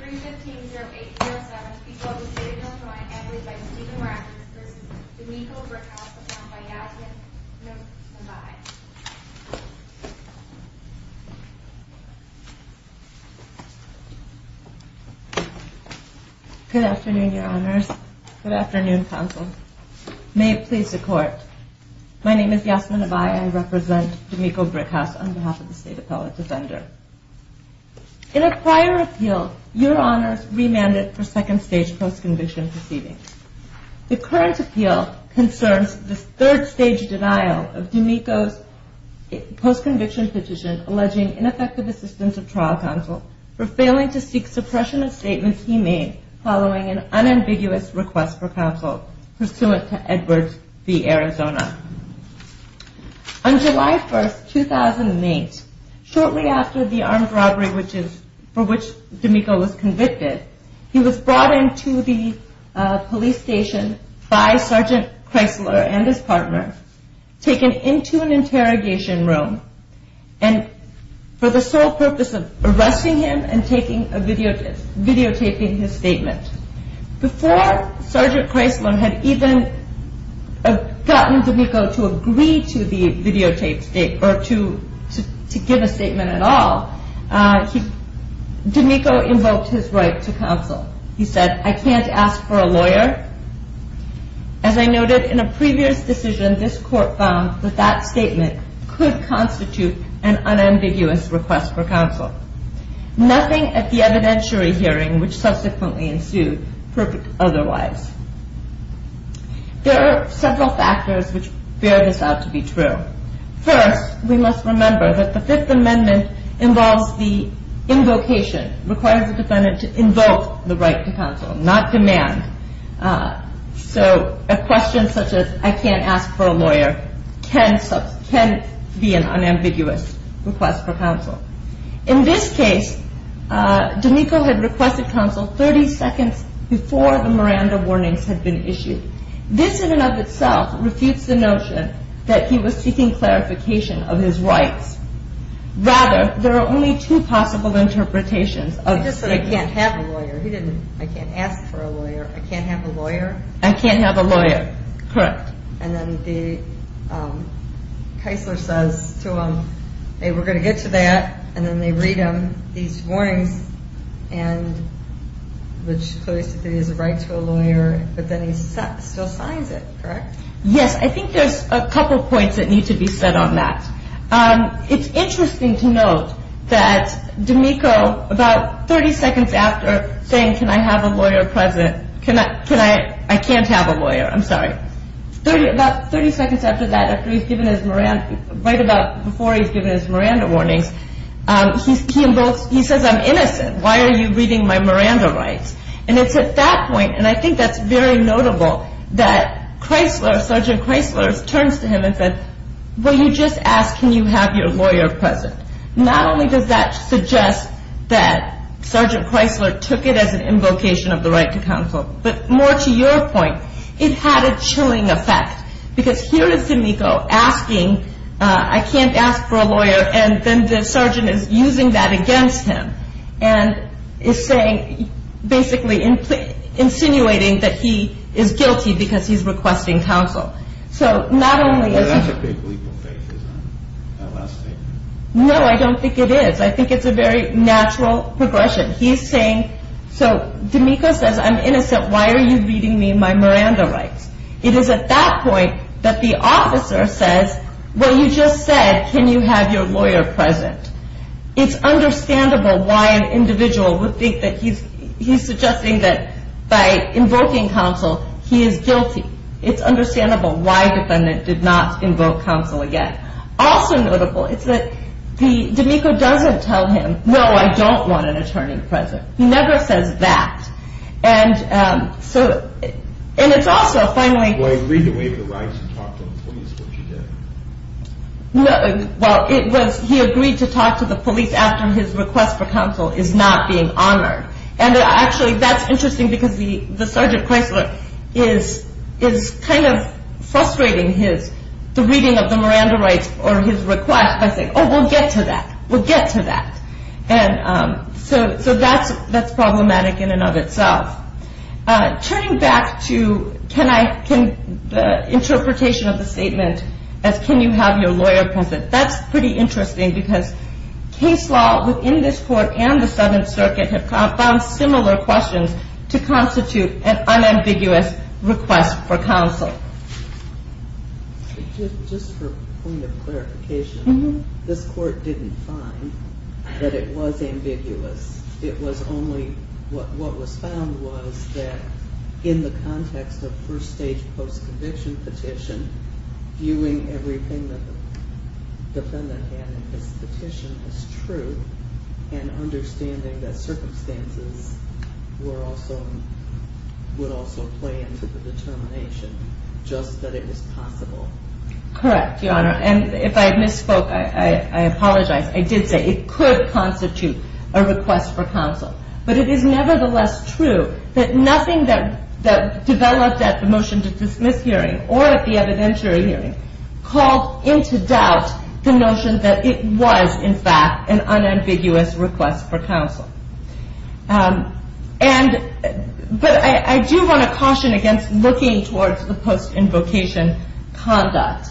3-15-08-07 to be called to the State Appellate Defender's Office by Ms. Deacon Morales v. D'Amico Brickhouse on behalf of Yasmin Nabai Good afternoon, Your Honors. Good afternoon, Counsel. May it please the Court. My name is Yasmin Nabai. I represent D'Amico Brickhouse on behalf of the State Appellate Defender. In a prior appeal, Your Honors remanded for second-stage post-conviction proceedings. The current appeal concerns the third-stage denial of D'Amico's post-conviction petition alleging ineffective assistance of trial counsel for failing to seek suppression of statements he made following an unambiguous request for counsel pursuant to Edwards v. Arizona. On July 1, 2008, shortly after the armed robbery for which D'Amico was convicted, he was brought into the police station by Sergeant Chrysler and his partner, taken into an interrogation room for the sole purpose of arresting him and videotaping his statement. Before Sergeant Chrysler had even gotten D'Amico to agree to give a statement at all, D'Amico invoked his right to counsel. He said, I can't ask for a lawyer. As I noted, in a previous decision, this Court found that that statement could constitute an unambiguous request for counsel. Nothing at the evidentiary hearing which subsequently ensued proved otherwise. There are several factors which bear this out to be true. First, we must remember that the Fifth Amendment involves the invocation, requires the defendant to invoke the right to counsel, not demand. So a question such as, I can't ask for a lawyer, can be an unambiguous request for counsel. In this case, D'Amico had requested counsel 30 seconds before the Miranda warnings had been issued. This in and of itself refutes the notion that he was seeking clarification of his rights. Rather, there are only two possible interpretations. I just said, I can't have a lawyer. He didn't, I can't ask for a lawyer. I can't have a lawyer? I can't have a lawyer. Correct. And then the Chrysler says to him, hey, we're going to get to that. And then they read him these warnings and which clearly is a right to a lawyer. But then he still signs it, correct? Yes, I think there's a couple of points that need to be said on that. It's interesting to note that D'Amico, about 30 seconds after saying, can I have a lawyer present? Can I? Can I? I can't have a lawyer. I'm sorry. About 30 seconds after that, after he's given his Miranda, right about before he's given his Miranda warnings, he says, I'm innocent. Why are you reading my Miranda rights? And it's at that point, and I think that's very notable, that Chrysler, Sergeant Chrysler turns to him and said, well, you just asked, can you have your lawyer present? Not only does that suggest that Sergeant Chrysler took it as an invocation of the right to counsel, but more to your point, it had a chilling effect. Because here is D'Amico asking, I can't ask for a lawyer, and then the sergeant is using that against him. And is saying, basically insinuating that he is guilty because he's requesting counsel. So not only is he... That's a big legal phase, isn't it? That last phase. No, I don't think it is. I think it's a very natural progression. He's saying, so D'Amico says, I'm innocent. Why are you reading me my Miranda rights? It is at that point that the officer says, well, you just said, can you have your lawyer present? It's understandable why an individual would think that he's suggesting that by invoking counsel, he is guilty. It's understandable why the defendant did not invoke counsel again. Also notable is that D'Amico doesn't tell him, no, I don't want an attorney present. He never says that. And it's also finally... Well, he agreed to waive the rights and talk to the police, which he did. Well, he agreed to talk to the police after his request for counsel is not being honored. And actually, that's interesting because the sergeant Chrysler is kind of frustrating his, the reading of the Miranda rights or his request by saying, oh, we'll get to that, we'll get to that. So that's problematic in and of itself. Turning back to the interpretation of the statement as can you have your lawyer present, that's pretty interesting because case law within this court and the Seventh Circuit have found similar questions to constitute an unambiguous request for counsel. Just for point of clarification, this court didn't find that it was ambiguous. It was only, what was found was that in the context of first stage post-conviction petition, viewing everything that the defendant had in his petition as true and understanding that circumstances were also, would also play into the determination just that it was possible. Correct, Your Honor. And if I misspoke, I apologize. I did say it could constitute a request for counsel. But it is nevertheless true that nothing that developed at the motion to dismiss hearing or at the evidentiary hearing called into doubt the notion that it was in fact an unambiguous request for counsel. And, but I do want to caution against looking towards the post-invocation conduct.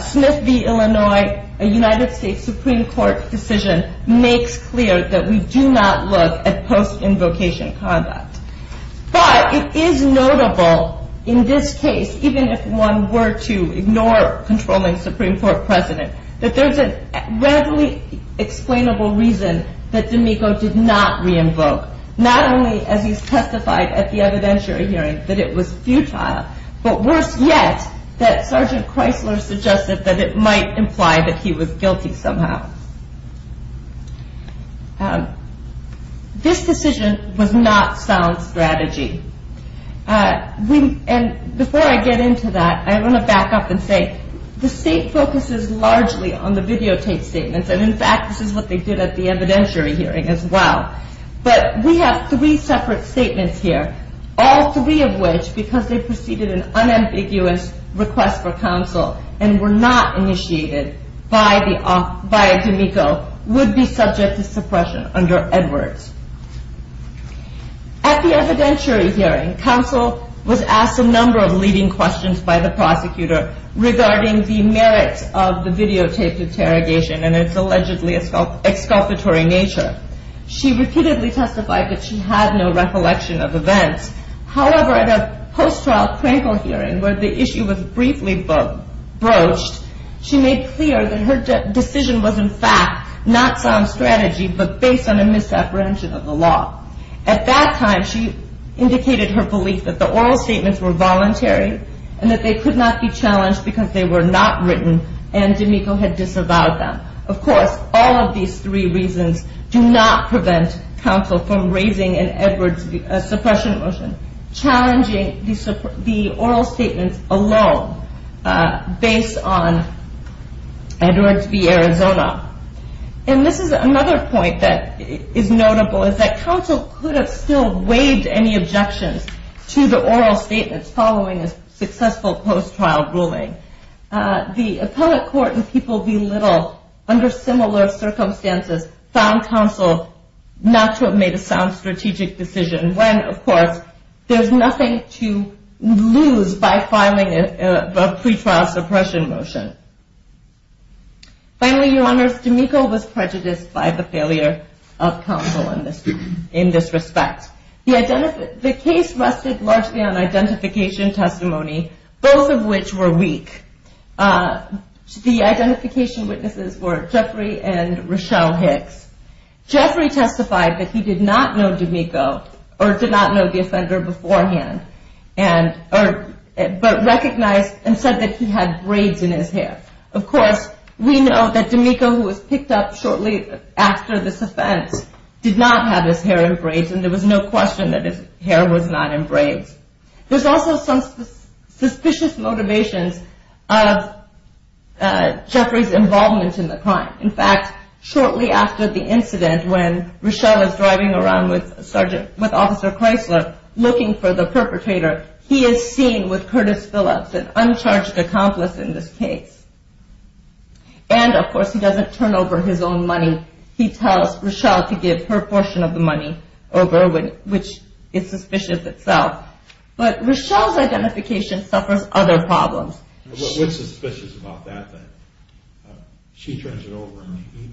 Smith v. Illinois, a United States Supreme Court decision makes clear that we do not look at post-invocation conduct. But it is notable in this case, even if one were to ignore controlling Supreme Court precedent, that there's a readily explainable reason that D'Amico did not re-invoke, not only as he testified at the evidentiary hearing that it was futile, but worse yet, that Sergeant Chrysler suggested that it might imply that he was guilty somehow. This decision was not sound strategy. And before I get into that, I want to back up and say the State focuses largely on the videotape statements. And in fact, this is what they did at the evidentiary hearing as well. But we have three separate statements here, all three of which, because they preceded an unambiguous request for counsel and were not initiated by D'Amico, would be subject to suppression under Edwards. At the evidentiary hearing, counsel was asked a number of leading questions by the prosecutor regarding the merits of the videotaped interrogation and its allegedly exculpatory nature. She repeatedly testified that she had no recollection of events. However, at a post-trial Krankel hearing where the issue was briefly broached, she made clear that her decision was in fact not sound strategy, but based on a misapprehension of the law. At that time, she indicated her belief that the oral statements were voluntary and that they could not be challenged because they were not written and D'Amico had disavowed them. Of course, all of these three reasons do not prevent counsel from raising an Edwards suppression motion, challenging the oral statements alone based on Edwards v. Arizona. And this is another point that is notable, is that counsel could have still waived any objections to the oral statements following a successful post-trial ruling. The appellate court and people belittle, under similar circumstances, found counsel not to have made a sound strategic decision when, of course, there's nothing to lose by filing a pretrial suppression motion. Finally, your honors, D'Amico was prejudiced by the failure of counsel in this respect. The case rested largely on identification testimony, both of which were weak. The identification witnesses were Jeffrey and Rochelle Hicks. Jeffrey testified that he did not know D'Amico or did not know the offender beforehand, but recognized and said that he had braids in his hair. Of course, we know that D'Amico, who was picked up shortly after this offense, did not have his hair in braids, and there was no question that his hair was not in braids. There's also some suspicious motivations of Jeffrey's involvement in the crime. In fact, shortly after the incident, when Rochelle is driving around with Officer Chrysler looking for the perpetrator, he is seen with Curtis Phillips, an uncharged accomplice in this case. And, of course, he doesn't turn over his own money. He tells Rochelle to give her portion of the money over, which is suspicious itself. But Rochelle's identification suffers other problems. What's suspicious about that, then? She turns it over, and he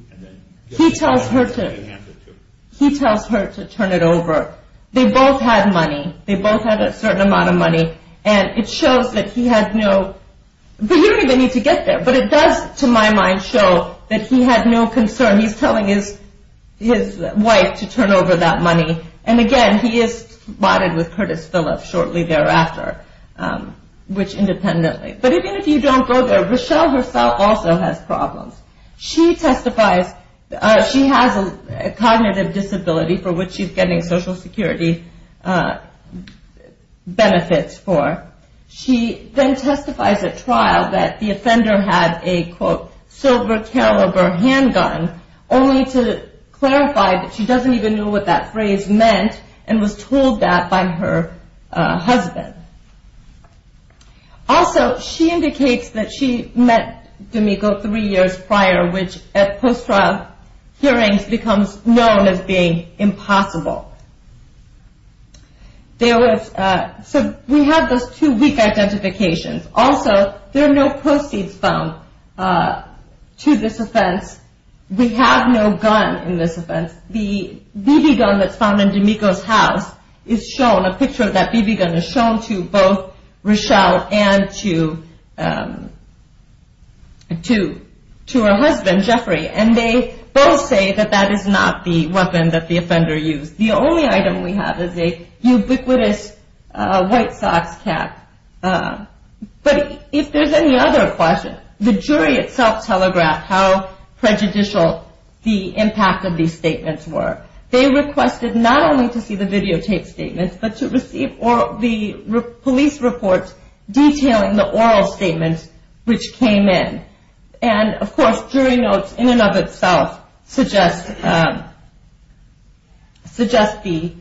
gives it to her, and they hand it to her. He tells her to turn it over. They both had money. They both had a certain amount of money, and it shows that he had no... He's telling his wife to turn over that money. And, again, he is spotted with Curtis Phillips shortly thereafter, which independently... But even if you don't go there, Rochelle herself also has problems. She testifies... She has a cognitive disability for which she's getting Social Security benefits for. She then testifies at trial that the offender had a, quote, silver-caliber handgun, only to clarify that she doesn't even know what that phrase meant and was told that by her husband. Also, she indicates that she met D'Amico three years prior, which at post-trial hearings becomes known as being impossible. So we have those two weak identifications. Also, there are no proceeds found to this offense. We have no gun in this offense. The BB gun that's found in D'Amico's house is shown. A picture of that BB gun is shown to both Rochelle and to her husband, Jeffrey, and they both say that that is not the weapon that the offender used. The only item we have is a ubiquitous white socks cap. But if there's any other question, the jury itself telegraphed how prejudicial the impact of these statements were. They requested not only to see the videotape statements, but to receive the police reports detailing the oral statements which came in. And, of course, jury notes in and of itself suggest that the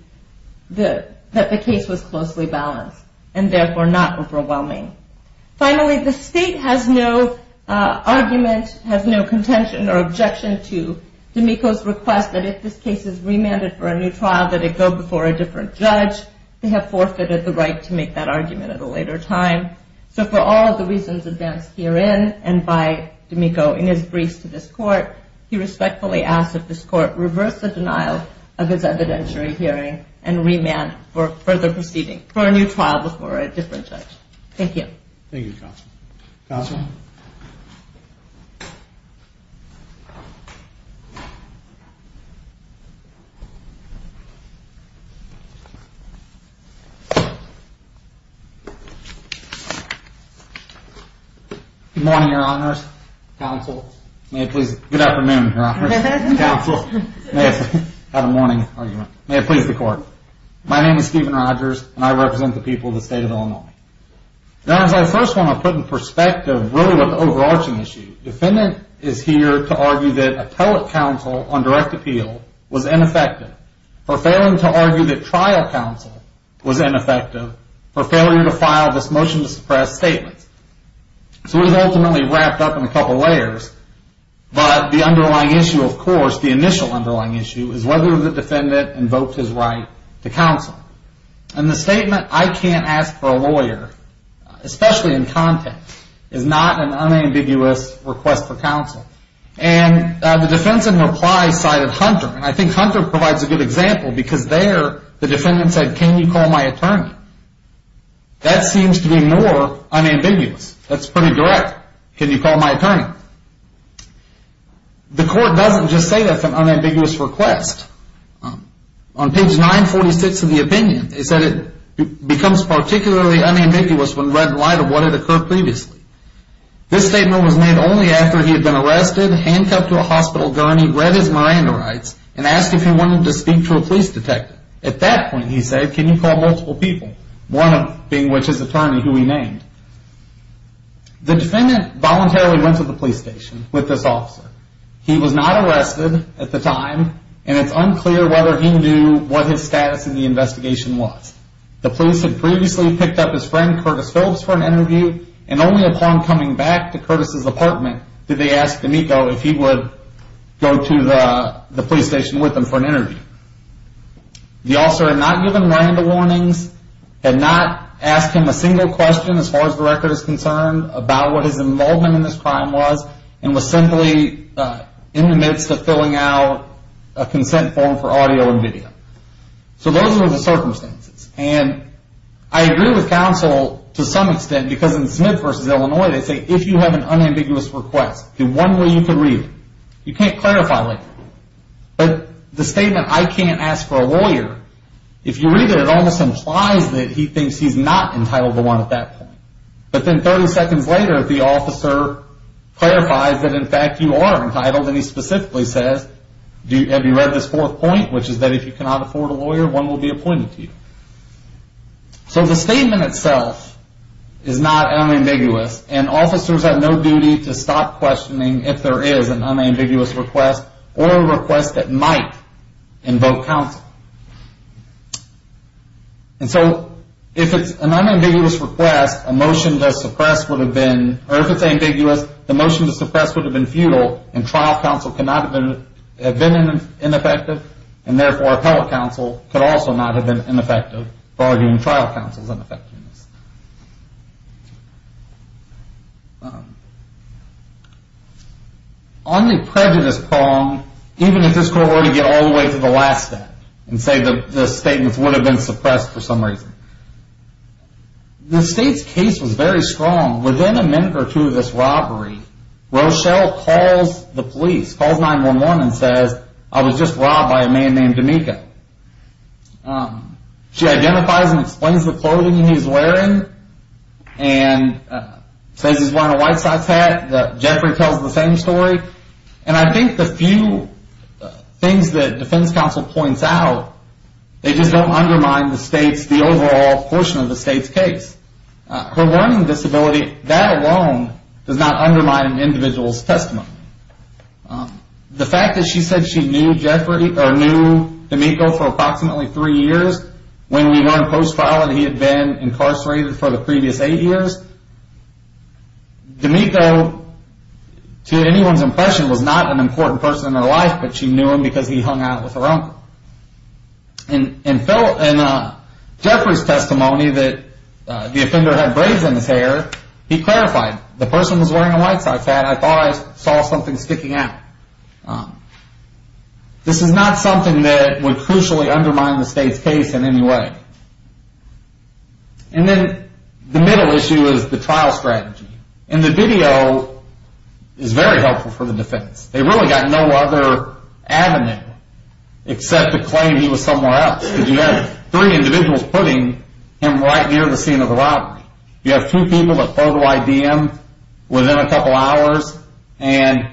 case was closely balanced and therefore not overwhelming. Finally, the state has no argument, has no contention or objection to D'Amico's request that if this case is remanded for a new trial, that it go before a different judge. They have forfeited the right to make that argument at a later time. So for all of the reasons advanced herein and by D'Amico in his briefs to this court, he respectfully asks that this court reverse the denial of his evidentiary hearing and remand for further proceeding for a new trial before a different judge. Thank you. Thank you, Counsel. Counsel? Good morning, Your Honors. Counsel? Good afternoon, Your Honors. Counsel? May I have a morning argument? May it please the Court. My name is Stephen Rogers, and I represent the people of the state of Illinois. Your Honors, I first want to put in perspective really what the overarching issue. Defendant is here to argue that appellate counsel on direct appeal was ineffective. For failing to argue that trial counsel was ineffective, for failure to file this motion to suppress statement. So we've ultimately wrapped up in a couple layers, but the underlying issue, of course, the initial underlying issue, is whether the defendant invoked his right to counsel. And the statement, I can't ask for a lawyer, especially in context, is not an unambiguous request for counsel. And the defense in reply cited Hunter, and I think Hunter provides a good example because there the defendant said, can you call my attorney? That seems to be more unambiguous. That's pretty direct. Can you call my attorney? The Court doesn't just say that's an unambiguous request. On page 946 of the opinion, it said it becomes particularly unambiguous when read in light of what had occurred previously. This statement was made only after he had been arrested, handcuffed to a hospital gurney, when he read his Miranda rights and asked if he wanted to speak to a police detective. At that point, he said, can you call multiple people? One of them being his attorney, who he named. The defendant voluntarily went to the police station with this officer. He was not arrested at the time, and it's unclear whether he knew what his status in the investigation was. The police had previously picked up his friend, Curtis Phillips, for an interview, and only upon coming back to Curtis' apartment, did they ask D'Amico if he would go to the police station with them for an interview. The officer had not given Miranda warnings, had not asked him a single question, as far as the record is concerned, about what his involvement in this crime was, and was simply in the midst of filling out a consent form for audio and video. So those were the circumstances. And I agree with counsel to some extent, because in Smith v. Illinois, they say, if you have an unambiguous request, the one way you can read it. You can't clarify later. But the statement, I can't ask for a lawyer, if you read it, it almost implies that he thinks he's not entitled to one at that point. But then 30 seconds later, the officer clarifies that in fact you are entitled, and he specifically says, have you read this fourth point, which is that if you cannot afford a lawyer, one will be appointed to you. So the statement itself is not unambiguous, and officers have no duty to stop questioning if there is an unambiguous request, or a request that might invoke counsel. And so if it's an unambiguous request, a motion to suppress would have been, or if it's ambiguous, the motion to suppress would have been futile, and trial counsel could not have been ineffective, and therefore appellate counsel could also not have been ineffective for arguing trial counsel's ineffectiveness. On the prejudice prong, even if this court were to get all the way to the last step, and say the statements would have been suppressed for some reason, the state's case was very strong. Within a minute or two of this robbery, Rochelle calls the police, calls 911, and says, I was just robbed by a man named D'Amico. She identifies and explains the clothing he's wearing, and says he's wearing a white socks hat. Jeffrey tells the same story. And I think the few things that defense counsel points out, they just don't undermine the state's, the overall portion of the state's case. Her learning disability, that alone does not undermine an individual's testimony. The fact that she said she knew D'Amico for approximately three years, when we learned post-trial that he had been incarcerated for the previous eight years, D'Amico, to anyone's impression, was not an important person in her life, but she knew him because he hung out with her uncle. In Jeffrey's testimony that the offender had braids in his hair, he clarified, the person was wearing a white sock hat. I thought I saw something sticking out. This is not something that would crucially undermine the state's case in any way. And then the middle issue is the trial strategy. And the video is very helpful for the defense. They really got no other avenue except to claim he was somewhere else, because you have three individuals putting him right near the scene of the robbery. You have two people that photo ID him within a couple hours, and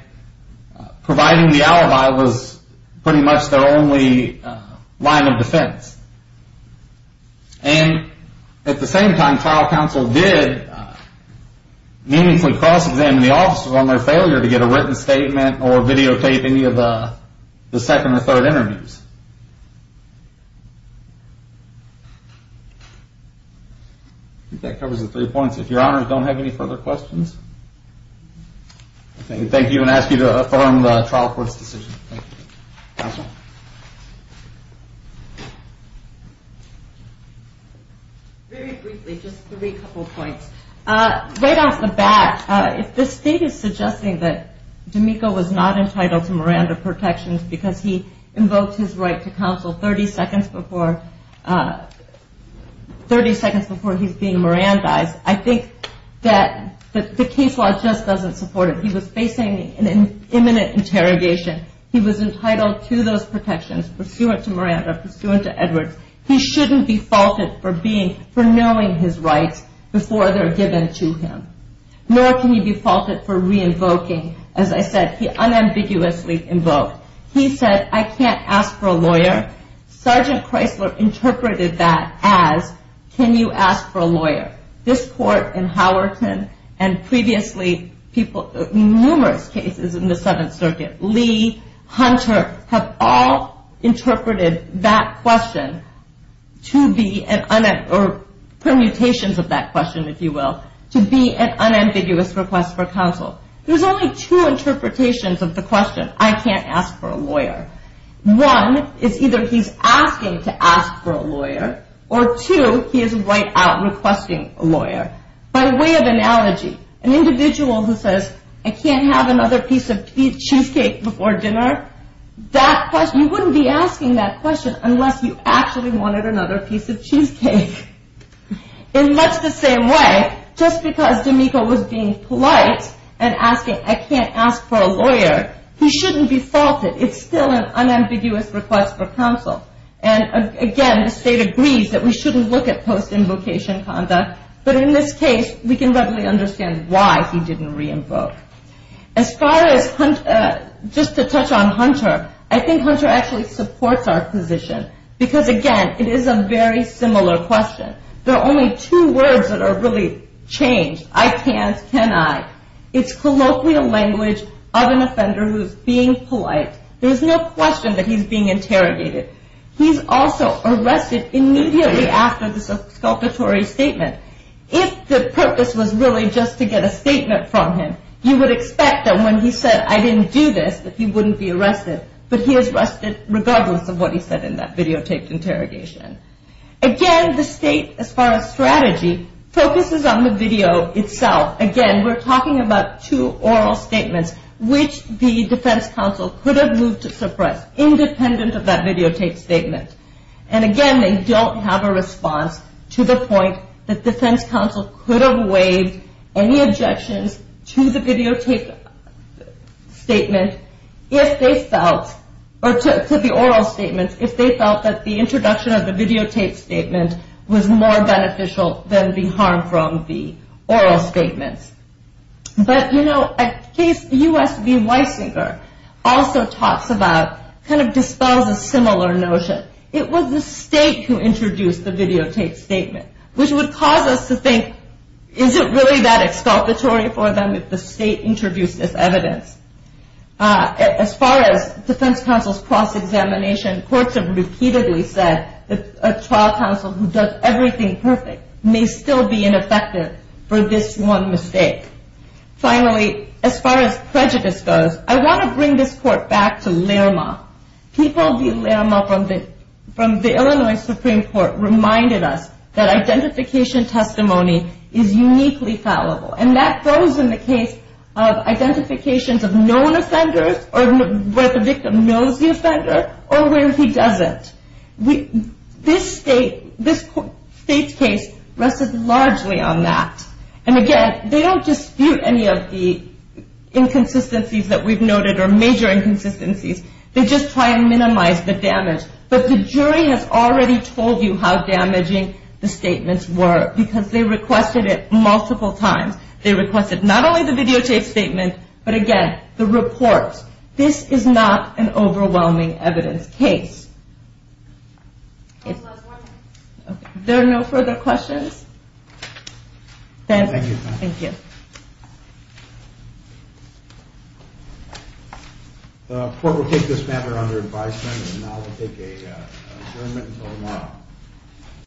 providing the alibi was pretty much their only line of defense. And at the same time, trial counsel did meaningfully cross-examine the officers on their failure to get a written statement or videotape any of the second or third interviews. I think that covers the three points. If your honors don't have any further questions, I can thank you and ask you to affirm the trial court's decision. Counsel? Very briefly, just three couple points. Right off the bat, if the state is suggesting that D'Amico was not entitled to Miranda protections because he invoked his right to counsel 30 seconds before he's being Mirandized, I think that the case law just doesn't support it. He was facing an imminent interrogation. He was entitled to those protections pursuant to Miranda, pursuant to Edwards. He shouldn't be faulted for knowing his rights before they're given to him. Nor can he be faulted for re-invoking, as I said, he unambiguously invoked. He said, I can't ask for a lawyer. Sergeant Chrysler interpreted that as, can you ask for a lawyer? This court in Howerton and previously numerous cases in the Seventh Circuit, Lee, Hunter, have all interpreted that question to be, or permutations of that question, if you will, to be an unambiguous request for counsel. There's only two interpretations of the question, I can't ask for a lawyer. One is either he's asking to ask for a lawyer, or two, he is right out requesting a lawyer. By way of analogy, an individual who says, I can't have another piece of cheesecake before dinner, you wouldn't be asking that question unless you actually wanted another piece of cheesecake. In much the same way, just because D'Amico was being polite and asking, I can't ask for a lawyer, he shouldn't be faulted. It's still an unambiguous request for counsel. Again, the state agrees that we shouldn't look at post-invocation conduct, but in this case, we can readily understand why he didn't re-invoke. As far as, just to touch on Hunter, I think Hunter actually supports our position, because again, it is a very similar question. There are only two words that are really changed, I can't, can I. It's colloquial language of an offender who's being polite. There's no question that he's being interrogated. He's also arrested immediately after this exculpatory statement. If the purpose was really just to get a statement from him, you would expect that when he said, I didn't do this, that he wouldn't be arrested. But he is arrested regardless of what he said in that videotaped interrogation. Again, the state, as far as strategy, focuses on the video itself. Again, we're talking about two oral statements, which the defense counsel could have moved to suppress, independent of that videotaped statement. Again, they don't have a response to the point that defense counsel could have waived any objections to the videotaped statement if they felt, or to the oral statements, if they felt that the introduction of the videotaped statement was more beneficial than the harm from the oral statements. But, you know, a case, U.S. v. Weisinger, also talks about, kind of dispels a similar notion. It was the state who introduced the videotaped statement, which would cause us to think, is it really that exculpatory for them if the state introduced this evidence? As far as defense counsel's cross-examination, courts have repeatedly said that a trial counsel who does everything perfect may still be ineffective for this one mistake. Finally, as far as prejudice goes, I want to bring this court back to Lerma. People via Lerma from the Illinois Supreme Court reminded us that identification testimony is uniquely fallible. And that goes in the case of identifications of known offenders, or where the victim knows the offender, or where he doesn't. This state's case rested largely on that. And again, they don't dispute any of the inconsistencies that we've noted, or major inconsistencies. They just try and minimize the damage. But the jury has already told you how damaging the statements were, because they requested it multiple times. They requested not only the videotaped statement, but again, the reports. This is not an overwhelming evidence case. There are no further questions? Thank you. Thank you. The court will take this matter under advisement. And now we'll take a adjournment until tomorrow.